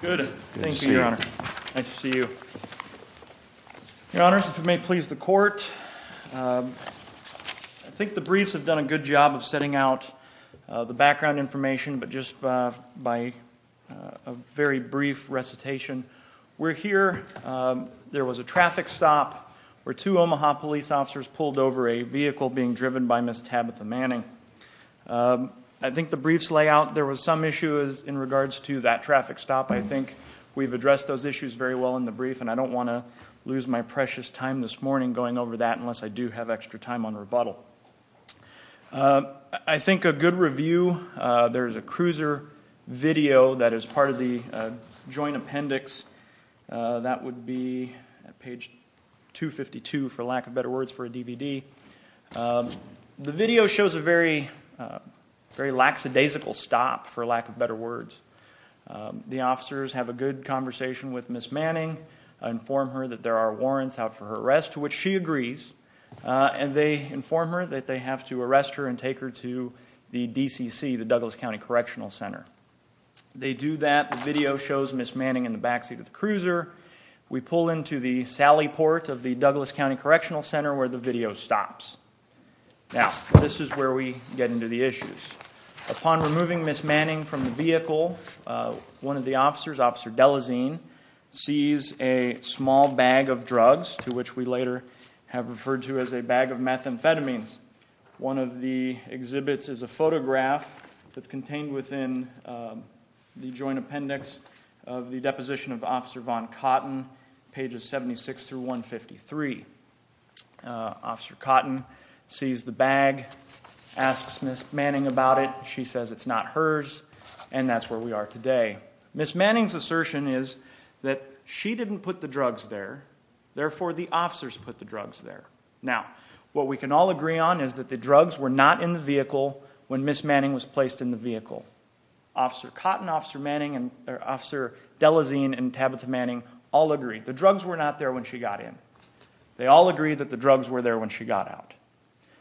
Good, thank you your honor. Nice to see you. Your honors, if you may please the court. I think the briefs have done a good job of setting out the background information, but just by a very brief recitation. We're here. There was a traffic stop where two Omaha police officers pulled over a vehicle being driven by Miss Tabitha Manning. I think the briefs lay out there was some issues in regards to that traffic stop. I think we've addressed those issues very well in the brief and I don't want to lose my precious time this morning going over that unless I do have extra time on rebuttal. I think a good review, there's a cruiser video that is part of the joint appendix. That would be at page 252 for lack of better words for a DVD. The video shows a very lackadaisical stop for lack of better words. The officers have a good conversation with Miss Manning, inform her that there are warrants out for her arrest, which she agrees. And they inform her that they have to arrest her and take her to the DCC, the Douglas County Correctional Center. They do that. The video shows Miss Manning in the backseat of the cruiser. We pull into the sally port of the Douglas County Correctional Center where the video stops. Now, this is where we get into the issues. Upon removing Miss Manning from the vehicle, one of the officers, Officer Delazine, sees a small bag of drugs to which we later have referred to as a bag of methamphetamines. One of the exhibits is a photograph that's contained within the joint appendix of the deposition of Officer Von Cotton, pages 76 through 153. Officer Cotton sees the bag, asks Miss Manning about it, she says it's not hers, and that's where we are today. Miss Manning's assertion is that she didn't put the drugs there, therefore the officers put the drugs there. Now, what we can all agree on is that the drugs were not in the vehicle when Miss Manning was placed in the vehicle. Officer Cotton, Officer Delazine, and Tabitha Manning all agreed the drugs were not there when she got in. They all agreed that the drugs were there when she got out.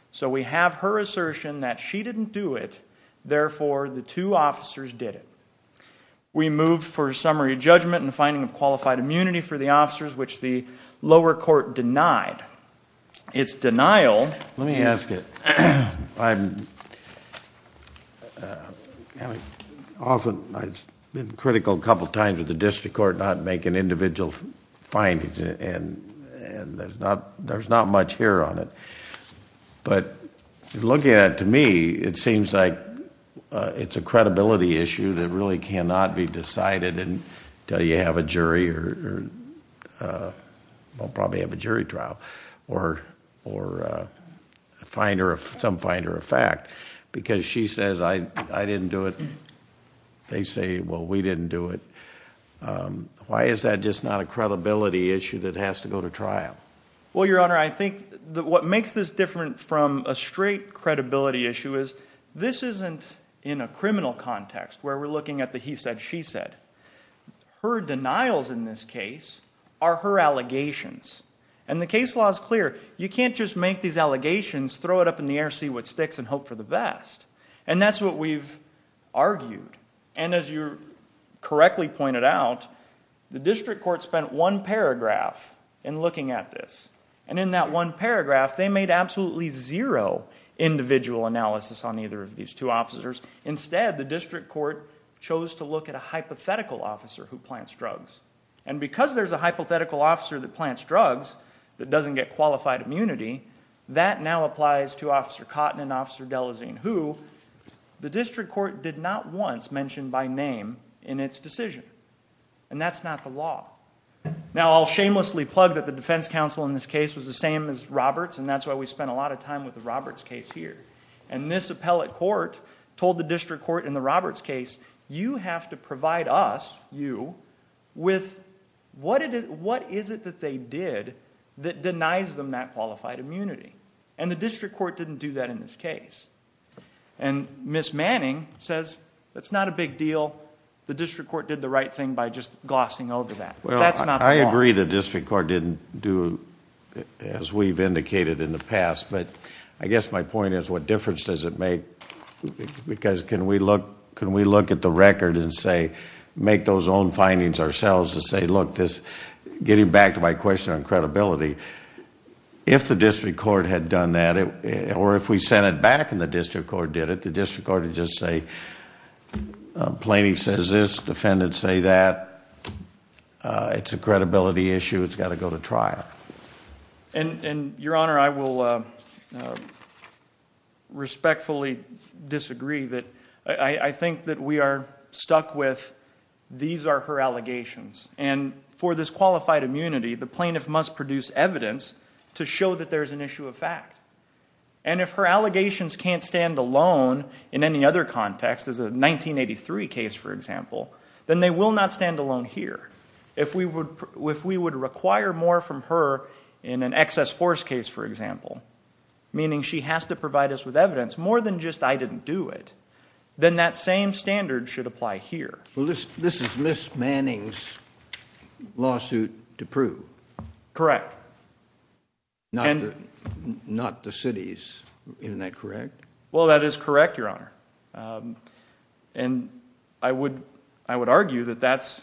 So we have her assertion that she didn't do it, therefore the two officers did it. We move for summary judgment and finding of qualified immunity for the officers, which the lower court denied. It's denial- Let me ask it. Often, I've been critical a couple times of the district court not making individual findings, and there's not much here on it. But looking at it, to me, it seems like it's a credibility issue that really cannot be decided until you have a jury, or probably have a jury trial, or some finder of fact, because she says, I didn't do it. They say, well, we didn't do it. Why is that just not a credibility issue that has to go to trial? Well, your honor, I think that what makes this different from a straight credibility issue is, this isn't in a criminal context where we're looking at the he said, she said. Her denials in this case are her allegations. And the case law is clear, you can't just make these allegations, throw it up in the air, see what sticks, and hope for the best. And that's what we've argued. And as you correctly pointed out, the district court spent one paragraph in looking at this. And in that one paragraph, they made absolutely zero individual analysis on either of these two officers. Instead, the district court chose to look at a hypothetical officer who plants drugs. And because there's a hypothetical officer that plants drugs that doesn't get qualified immunity, that now applies to Officer Cotton and Officer Delazine, who the district court did not once mention by name in its decision. And that's not the law. Now, I'll shamelessly plug that the defense counsel in this case was the same as Roberts, and that's why we spent a lot of time with the Roberts case here. And this appellate court told the district court in the Roberts case, you have to provide us, you, with what is it that they did that denies them that qualified immunity? And the district court didn't do that in this case. And Ms. Manning says, it's not a big deal. The district court did the right thing by just glossing over that. That's not the law. I agree the district court didn't do as we've indicated in the past. But I guess my point is, what difference does it make? Because can we look at the record and say, make those own findings ourselves to say, look, this, getting back to my question on credibility, if the district court had done that, or if we sent it back and the district court did it, the district court would just say, plaintiff says this, defendants say that, it's a credibility issue, it's got to go to trial. And, your honor, I will respectfully disagree that. I think that we are stuck with, these are her allegations. And for this qualified immunity, the plaintiff must produce evidence to show that there's an issue of fact. And if her allegations can't stand alone in any other context, as a 1983 case, for example, then they will not stand alone here. If we would require more from her in an excess force case, for example, meaning she has to provide us with evidence, more than just I didn't do it, then that same standard should apply here. Well, this is Ms. Manning's lawsuit to prove. Correct. Not the city's, isn't that correct? Well, that is correct, your honor. And I would argue that that's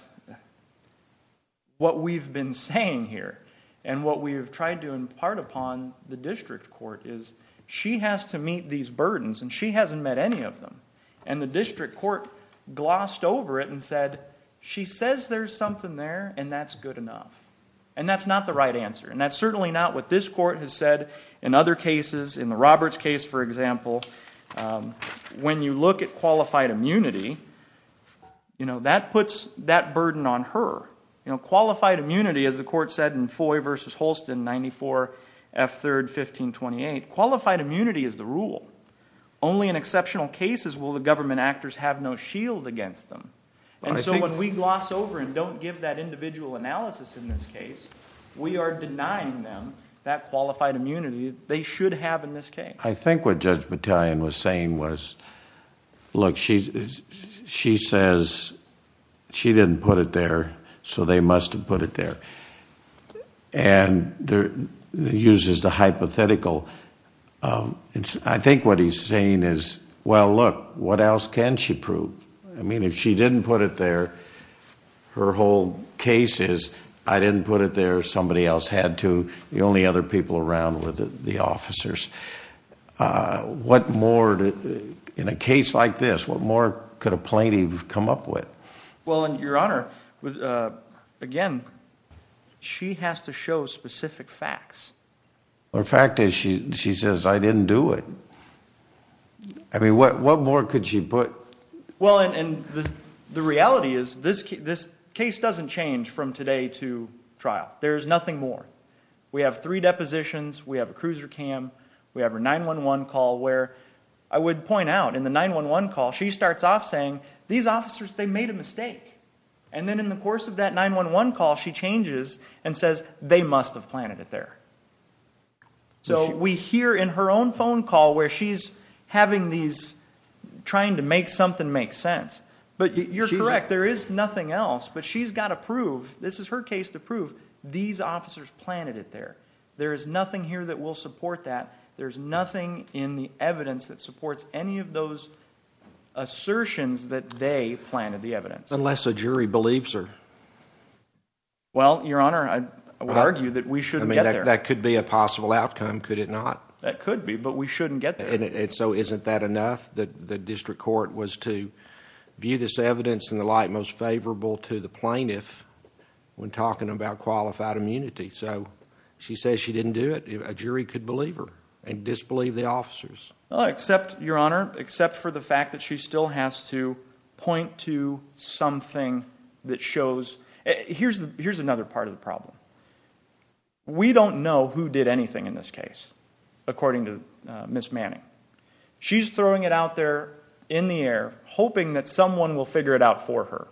what we've been saying here. And what we've tried to impart upon the district court is, she has to meet these burdens and she hasn't met any of them. And the district court glossed over it and said, she says there's something there and that's good enough. And that's not the right answer. And that's certainly not what this court has said in other cases. In the Roberts case, for example, when you look at qualified immunity, that puts that burden on her. Qualified immunity, as the court said in Foy versus Holston, 94 F3rd 1528, qualified immunity is the rule. Only in exceptional cases will the government actors have no shield against them. And so when we gloss over and don't give that individual analysis in this case, we are denying them that qualified immunity. They should have in this case. I think what Judge Battalion was saying was, look, she says, she didn't put it there, so they must have put it there, and uses the hypothetical. I think what he's saying is, well, look, what else can she prove? I mean, if she didn't put it there, her whole case is, I didn't put it there, somebody else had to, the only other people around were the officers. What more, in a case like this, what more could a plaintiff come up with? Well, and your honor, again, she has to show specific facts. The fact is, she says, I didn't do it. I mean, what more could she put? Well, and the reality is, this case doesn't change from today to trial. There's nothing more. We have three depositions, we have a cruiser cam, we have her 911 call, where I would point out, in the 911 call, she starts off saying, these officers, they made a mistake. And then in the course of that 911 call, she changes and says, they must have planted it there. So we hear in her own phone call, where she's having these, trying to make something make sense. But you're correct, there is nothing else. But she's gotta prove, this is her case to prove, these officers planted it there. There is nothing here that will support that. There's nothing in the evidence that supports any of those assertions that they planted the evidence. Unless a jury believes her. Well, your honor, I would argue that we shouldn't get there. That could be a possible outcome, could it not? That could be, but we shouldn't get there. And so isn't that enough? That the district court was to view this evidence in the light most favorable to the plaintiff, when talking about qualified immunity. So, she says she didn't do it, a jury could believe her, and disbelieve the officers. Well, except, your honor, except for the fact that she still has to point to something that shows. Here's another part of the problem. We don't know who did anything in this case, according to Ms. Manning. She's throwing it out there in the air, hoping that someone will figure it out for her.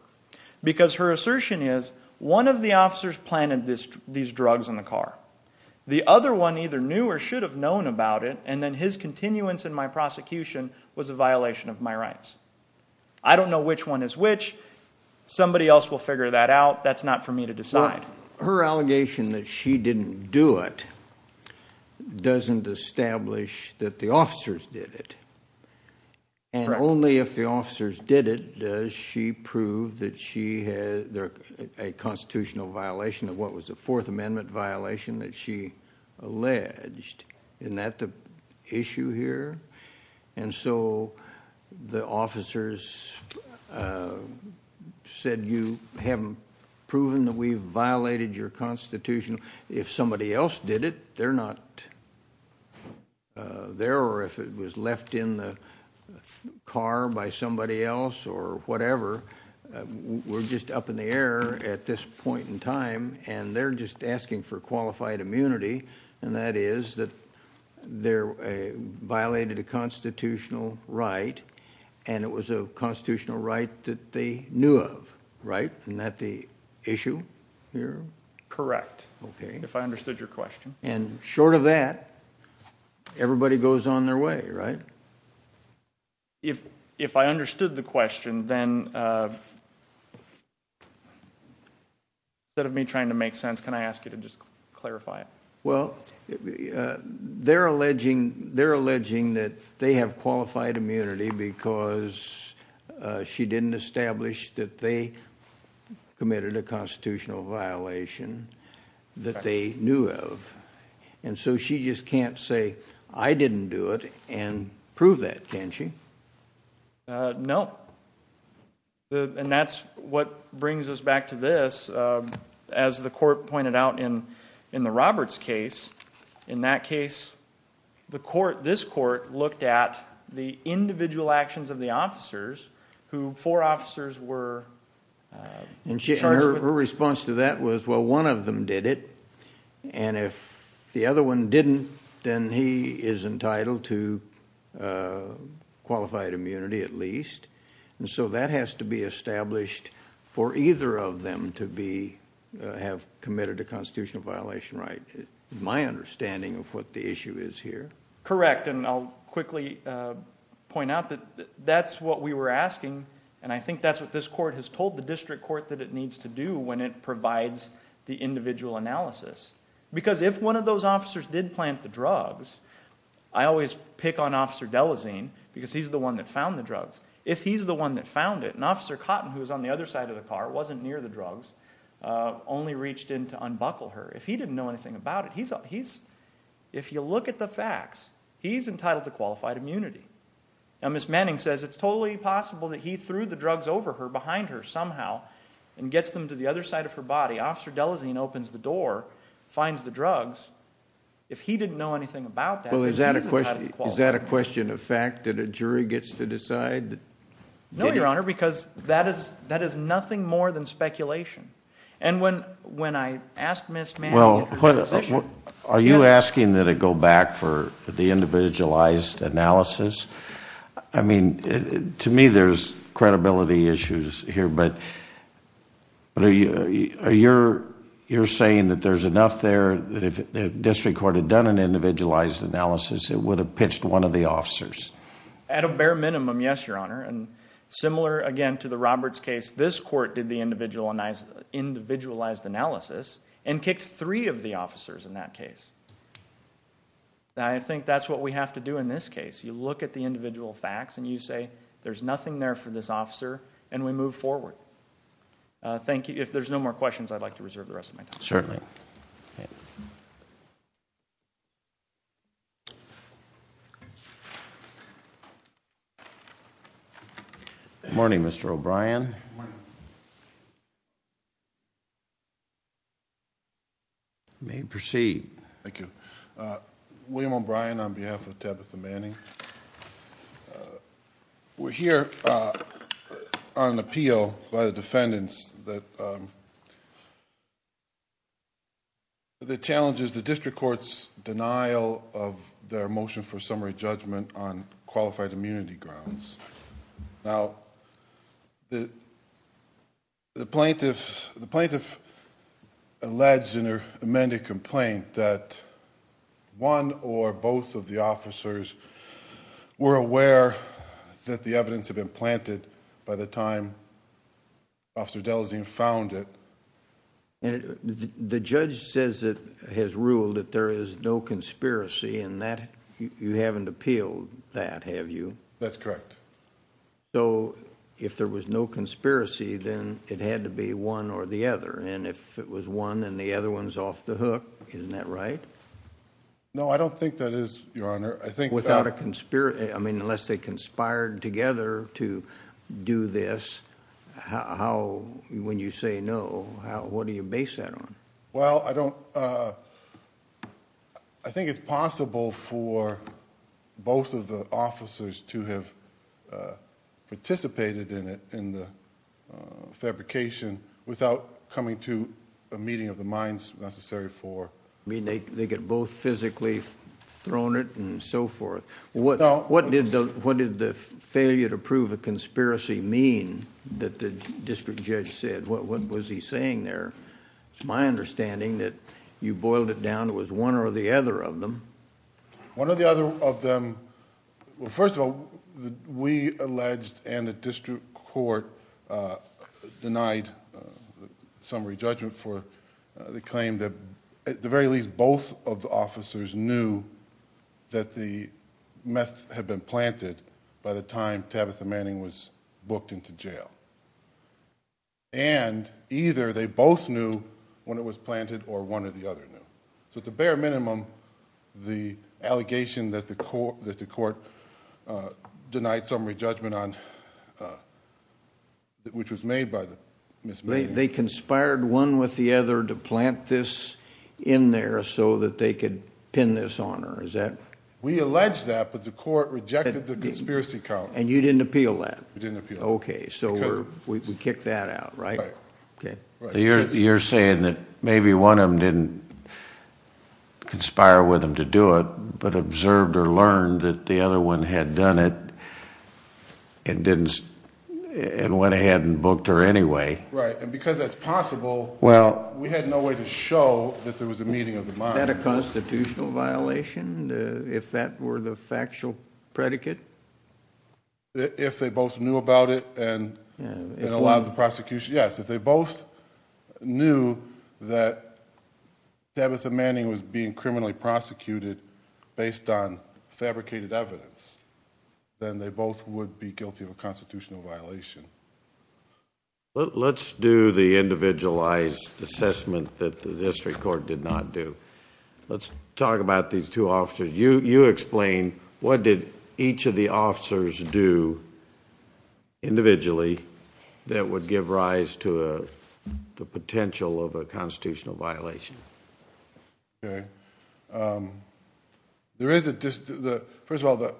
Because her assertion is, one of the officers planted these drugs in the car. The other one either knew or should have known about it, and then his continuance in my prosecution was a violation of my rights. I don't know which one is which, somebody else will figure that out, that's not for me to decide. Her allegation that she didn't do it, doesn't establish that the officers did it. And only if the officers did it, does she prove that she had a constitutional violation of what was a Fourth Amendment violation that she alleged. Isn't that the issue here? And so, the officers said you haven't proven that we've violated your constitutional, if somebody else did it, they're not there, or if it was left in the car by somebody else, or whatever. We're just up in the air at this point in time, and they're just asking for qualified immunity, and that is that they violated a constitutional right. And it was a constitutional right that they knew of, right? Isn't that the issue here? Correct. Okay. If I understood your question. And short of that, everybody goes on their way, right? If I understood the question, then, instead of me trying to make sense, can I ask you to just clarify it? Well, they're alleging that they have qualified immunity because she didn't establish that they committed a constitutional violation that they knew of. And so, she just can't say, I didn't do it, and prove that, can she? No, and that's what brings us back to this. As the court pointed out in the Roberts case, in that case, this court looked at the individual actions of the officers, who four officers were. And her response to that was, well, one of them did it, and if the other one didn't, then he is entitled to qualified immunity at least. And so, that has to be established for either of them to have committed a constitutional violation, right? My understanding of what the issue is here. Correct, and I'll quickly point out that that's what we were asking. And I think that's what this court has told the district court that it needs to do when it provides the individual analysis. Because if one of those officers did plant the drugs, I always pick on Officer Delazine, because he's the one that found the drugs. If he's the one that found it, and Officer Cotton, who was on the other side of the car, wasn't near the drugs, only reached in to unbuckle her. If he didn't know anything about it, he's, if you look at the facts, he's entitled to qualified immunity. Now, Ms. Manning says it's totally possible that he threw the drugs over her, behind her somehow, and gets them to the other side of her body. Officer Delazine opens the door, finds the drugs. If he didn't know anything about that, he's entitled to qualified immunity. Is that a question of fact that a jury gets to decide? No, Your Honor, because that is nothing more than speculation. And when I asked Ms. Manning... Well, are you asking that it go back for the individualized analysis? I mean, to me, there's credibility issues here, but you're saying that there's enough there that if the district court had done an individualized analysis, it would have pitched one of the officers? At a bare minimum, yes, Your Honor. And similar, again, to the Roberts case, this court did the individualized analysis and kicked three of the officers in that case. Now, I think that's what we have to do in this case. You look at the individual facts and you say, there's nothing there for this officer, and we move forward. Thank you. If there's no more questions, I'd like to reserve the rest of my time. Certainly. Morning, Mr. O'Brien. Morning. You may proceed. Thank you. William O'Brien on behalf of Tabitha Manning. We're here on appeal by the defendants that the challenges, the district court's denial of their motion for summary judgment on qualified immunity grounds. Now, the plaintiff alleged in her amended complaint that one or both of the officers were aware that the evidence had been planted by the time Officer Delazine found it. The judge says it has ruled that there is no conspiracy in that. You haven't appealed that, have you? That's correct. So, if there was no conspiracy, then it had to be one or the other. And if it was one and the other one's off the hook, isn't that right? No, I don't think that is, Your Honor. I think- Without a conspiracy, I mean, unless they conspired together to do this, how, when you say no, what do you base that on? Well, I don't... I think it's possible for both of the officers to have participated in it, in the fabrication, without coming to a meeting of the minds necessary for... I mean, they get both physically thrown it and so forth. What did the failure to prove a conspiracy mean that the district judge said? What was he saying there? It's my understanding that you boiled it down, it was one or the other of them. One or the other of them, well, first of all, we alleged and the district court denied summary judgment for the claim that, at the very least, both of the officers knew that the meth had been planted by the time Tabitha Manning was booked into jail. And either they both knew when it was planted or one or the other knew. So at the bare minimum, the allegation that the court denied summary judgment on, which was made by Ms. Manning. They conspired one with the other to plant this in there so that they could pin this on her, is that? We allege that, but the court rejected the conspiracy count. And you didn't appeal that? We didn't appeal that. Okay, so we kicked that out, right? Okay. You're saying that maybe one of them didn't conspire with them to do it, but observed or learned that the other one had done it and went ahead and booked her anyway. Right, and because that's possible, we had no way to show that there was a meeting of the mind. Is that a constitutional violation, if that were the factual predicate? If they both knew about it and allowed the prosecution, yes. If they both knew that Tabitha Manning was being criminally prosecuted based on fabricated evidence, then they both would be guilty of a constitutional violation. Let's do the individualized assessment that the district court did not do. Let's talk about these two officers. You explain what did each of the officers do individually that would give rise to the potential of a constitutional violation. Okay. There is a, first of all, the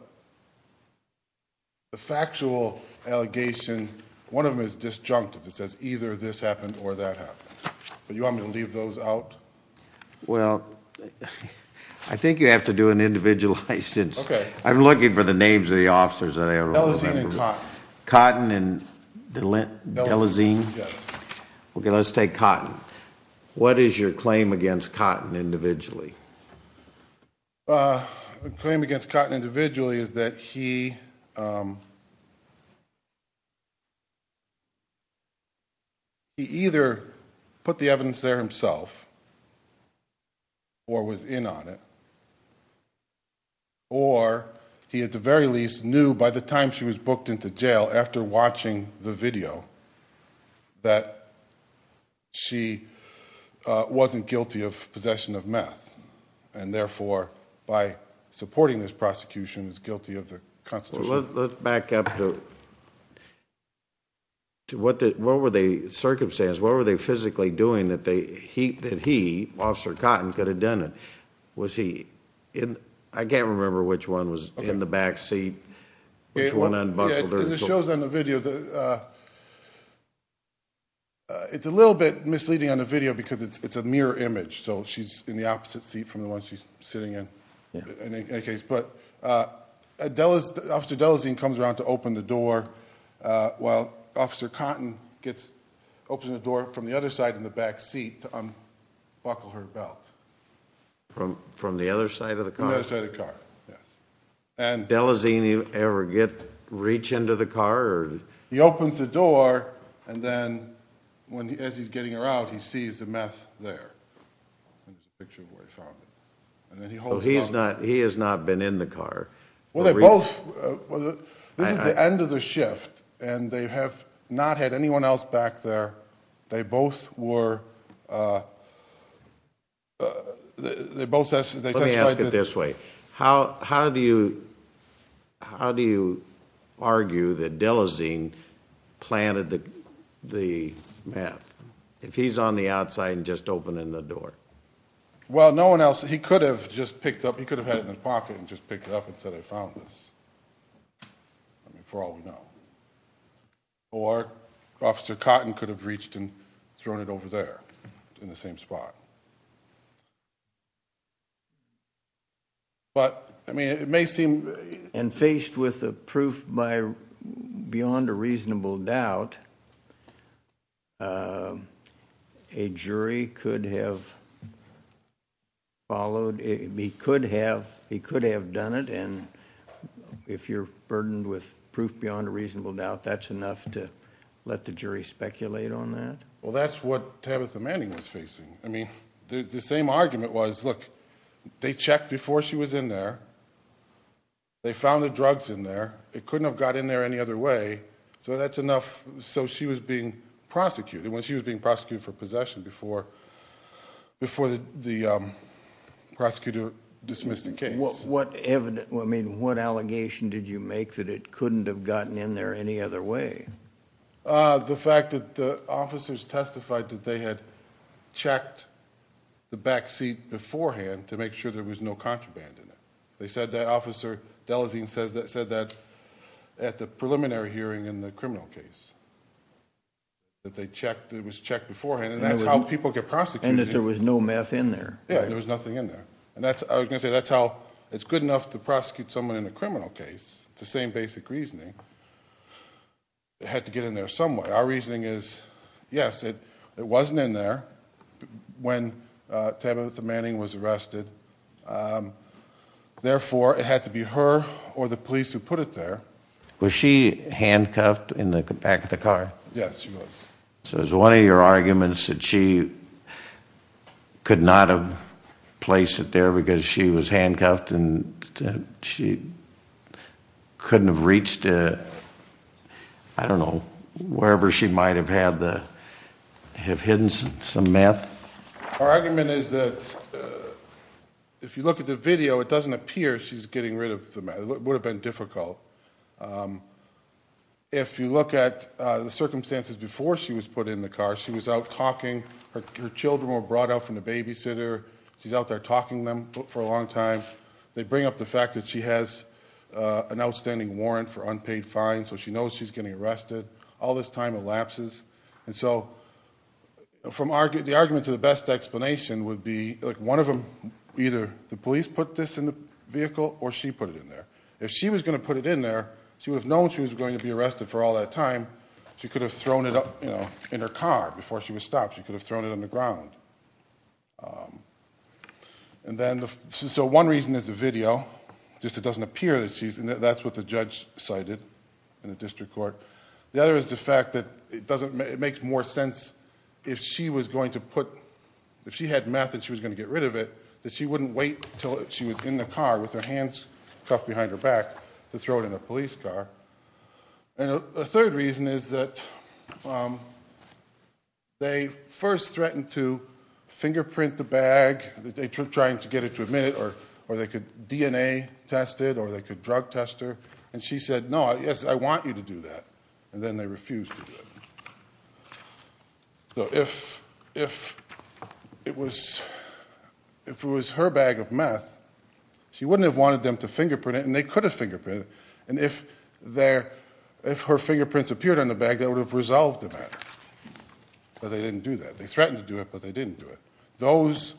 factual allegation, one of them is disjunctive, it says either this happened or that happened. But you want me to leave those out? Well, I think you have to do an individualized. I'm looking for the names of the officers that I don't remember. Cotton and Delezine? Yes. Okay, let's take Cotton. What is your claim against Cotton individually? The claim against Cotton individually is that he either put the evidence there himself or was in on it, or he at the very least knew by the time she was booked into jail, after watching the video, that she wasn't guilty of possession of meth. And therefore, by supporting this prosecution, is guilty of the constitution. Let's back up to what were the circumstances, what were they physically doing that he, Officer Cotton, could have done it? Was he in, I can't remember which one was in the back seat, which one unbuckled her. It shows on the video, it's a little bit misleading on the video because it's a mirror image. So she's in the opposite seat from the one she's sitting in, in any case. But Officer Delazine comes around to open the door, while Officer Cotton gets, opens the door from the other side in the back seat to unbuckle her belt. From the other side of the car? The other side of the car, yes. And- Delazine ever get, reach into the car, or? He opens the door, and then as he's getting around, he sees the meth there. And then he holds onto it. So he's not, he has not been in the car. Well, they both, this is the end of the shift, and they have not had anyone else back there. They both were, they both asked, they testified that- Let me ask it this way. How do you, how do you argue that Delazine planted the meth? If he's on the outside and just opening the door? Well, no one else, he could have just picked up, he could have had it in his pocket and just picked it up and said, I found this, I mean, for all we know. Or, Officer Cotton could have reached and thrown it over there, in the same spot. But, I mean, it may seem- And faced with the proof by, beyond a reasonable doubt, a jury could have followed, he could have, he could have done it. And if you're burdened with proof beyond a reasonable doubt, that's enough to let the jury speculate on that? Well, that's what Tabitha Manning was facing. I mean, the same argument was, look, they checked before she was in there, they found the drugs in there. It couldn't have got in there any other way. So that's enough, so she was being prosecuted. And when she was being prosecuted for possession before the prosecutor dismissed the case. What evidence, I mean, what allegation did you make that it couldn't have gotten in there any other way? The fact that the officers testified that they had checked the backseat beforehand to make sure there was no contraband in it. They said that, Officer Delazine said that at the preliminary hearing in the criminal case. That they checked, it was checked beforehand, and that's how people get prosecuted. And that there was no meth in there. Yeah, there was nothing in there. And that's, I was going to say, that's how, it's good enough to prosecute someone in a criminal case, it's the same basic reasoning. It had to get in there some way. Our reasoning is, yes, it wasn't in there when Tabitha Manning was arrested. And therefore, it had to be her or the police who put it there. Was she handcuffed in the back of the car? Yes, she was. So is one of your arguments that she could not have placed it there because she was handcuffed and she couldn't have reached, I don't know, wherever she might have had the, have hidden some meth? Our argument is that if you look at the video, it doesn't appear she's getting rid of the meth. It would have been difficult. If you look at the circumstances before she was put in the car, she was out talking. Her children were brought out from the babysitter. She's out there talking to them for a long time. They bring up the fact that she has an outstanding warrant for unpaid fines, so she knows she's getting arrested. All this time elapses. And so, the argument to the best explanation would be, one of them, either the police put this in the vehicle or she put it in there. If she was going to put it in there, she would have known she was going to be arrested for all that time. She could have thrown it in her car before she was stopped. She could have thrown it on the ground. And then, so one reason is the video, just it doesn't appear that she's, and that's what the judge cited in the district court. The other is the fact that it makes more sense if she was going to put, if she had meth and she was going to get rid of it, that she wouldn't wait until she was in the car with her hands cuffed behind her back to throw it in a police car. And a third reason is that they first threatened to fingerprint the bag, trying to get it to admit it, or they could DNA test it, or they could drug test her. And she said, no, yes, I want you to do that, and then they refused to do it. So if it was her bag of meth, she wouldn't have wanted them to fingerprint it, and they could have fingerprinted it. And if her fingerprints appeared on the bag, that would have resolved the matter, but they didn't do that. They threatened to do it, but they didn't do it. Those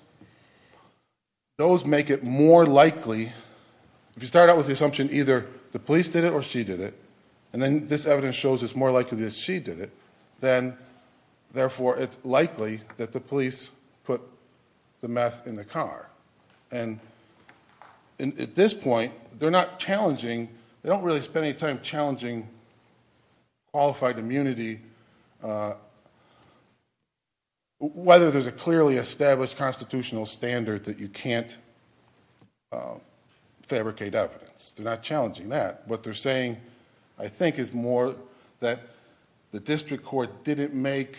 make it more likely, if you start out with the assumption either the police did it or she did it, and then this evidence shows it's more likely that she did it. Then, therefore, it's likely that the police put the meth in the car. And at this point, they're not challenging, they don't really spend any time challenging qualified immunity, whether there's a clearly established constitutional standard that you can't fabricate evidence. They're not challenging that. What they're saying, I think, is more that the district court didn't make,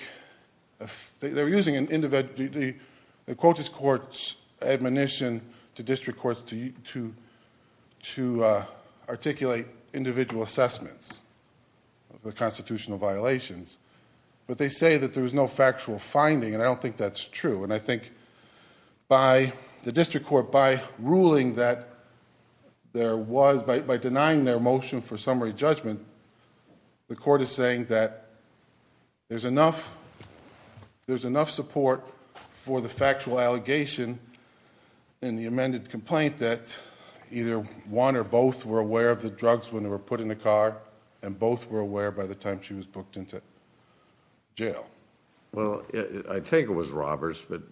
they were using the Quotas Court's admonition to district courts to articulate individual assessments of the constitutional violations. But they say that there was no factual finding, and I don't think that's true. And I think by the district court, by ruling that there was, by denying their motion for summary judgment, the court is saying that there's enough support for the factual allegation in the amended complaint that either one or both were aware of the drugs when they were put in the car, and both were aware by the time she was booked into jail. Well, I think it was robbers, but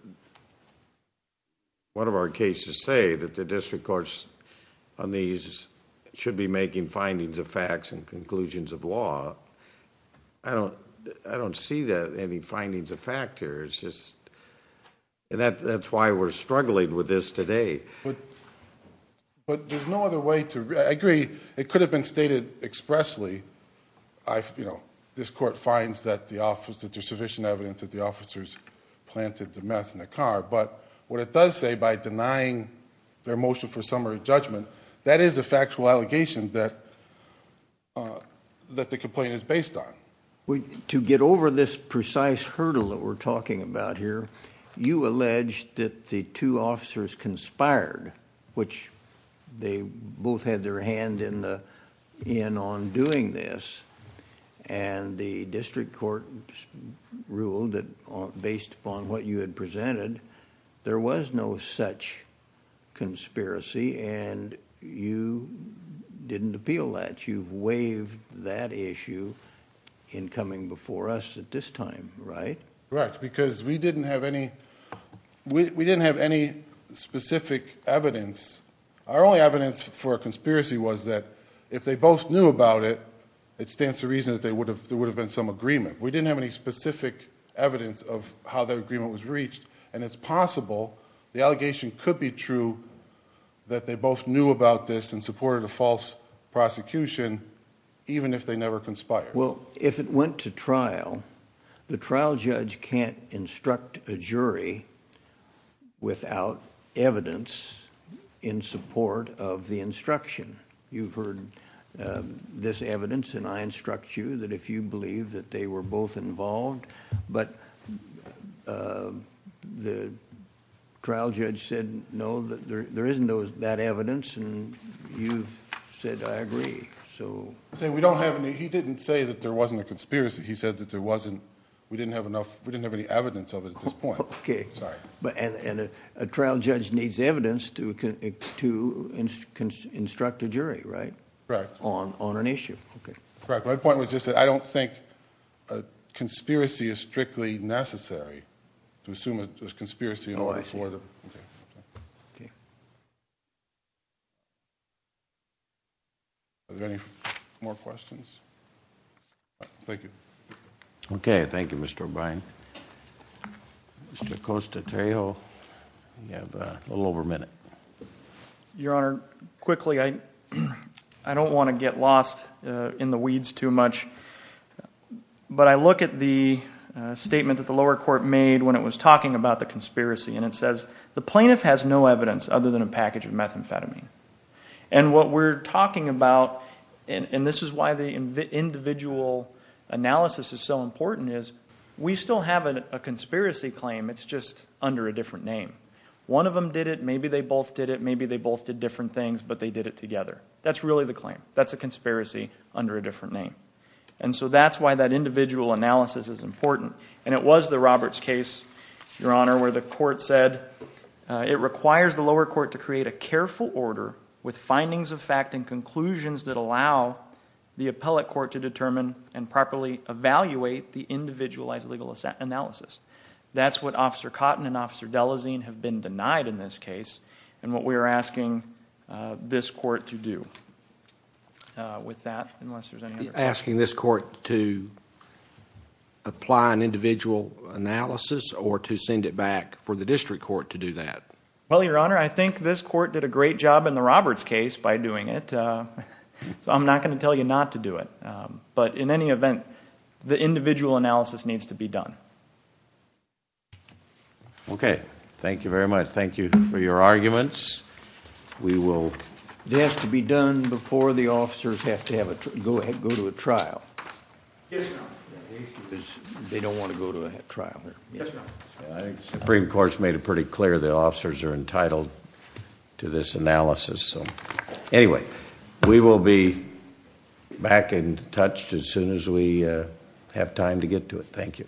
one of our cases say that the district courts on these should be making findings of facts and conclusions of law. I don't see any findings of fact here, it's just, and that's why we're struggling with this today. But there's no other way to, I agree, it could have been stated expressly, this court finds that there's sufficient evidence that the officers planted the meth in the car. But what it does say, by denying their motion for summary judgment, that is a factual allegation that the complaint is based on. To get over this precise hurdle that we're talking about here, you allege that the two officers conspired, which they both had their hand in on doing this. And the district court ruled that based upon what you had presented, there was no such conspiracy, and you didn't appeal that. You've waived that issue in coming before us at this time, right? Correct, because we didn't have any specific evidence. Our only evidence for a conspiracy was that if they both knew about it, it stands to reason that there would have been some agreement. We didn't have any specific evidence of how the agreement was reached, and it's possible the allegation could be true that they both knew about this and supported a false prosecution, even if they never conspired. Well, if it went to trial, the trial judge can't instruct a jury without evidence in support of the instruction. You've heard this evidence, and I instruct you that if you believe that they were both involved, but the trial judge said no, that there isn't that evidence, and you've said, I agree, so. He didn't say that there wasn't a conspiracy. He said that we didn't have any evidence of it at this point. Okay, and a trial judge needs evidence to instruct a jury, right? Correct. On an issue, okay. Correct, my point was just that I don't think a conspiracy is strictly necessary to assume it was a conspiracy in order for the, okay. Okay. Are there any more questions? Thank you. Okay, thank you, Mr. O'Brien. Mr. Acosta-Tejo, you have a little over a minute. Your Honor, quickly, I don't want to get lost in the weeds too much, but I look at the statement that the lower court made when it was talking about the conspiracy, and it says the plaintiff has no evidence other than a package of methamphetamine, and what we're talking about, and this is why the individual analysis is so important, is we still have a conspiracy claim. It's just under a different name. One of them did it. Maybe they both did it. Maybe they both did different things, but they did it together. That's really the claim. That's a conspiracy under a different name, and so that's why that individual analysis is important, and it was the Roberts case, Your Honor. Where the court said it requires the lower court to create a careful order with findings of fact and conclusions that allow the appellate court to determine and properly evaluate the individualized legal analysis. That's what Officer Cotton and Officer Delazine have been denied in this case, and what we are asking this court to do with that, unless there's any other questions. Are you asking this court to apply an individual analysis, or to send it back for the district court to do that? Well, Your Honor, I think this court did a great job in the Roberts case by doing it, so I'm not going to tell you not to do it, but in any event, the individual analysis needs to be done. Okay. Thank you very much. Thank you for your arguments. We will... We'll get it done before the officers have to go to a trial. Yes, Your Honor. Because they don't want to go to a trial. Yes, Your Honor. The Supreme Court has made it pretty clear the officers are entitled to this analysis, so... anyway, we will be back in touch as soon as we have time to get to it. Thank you.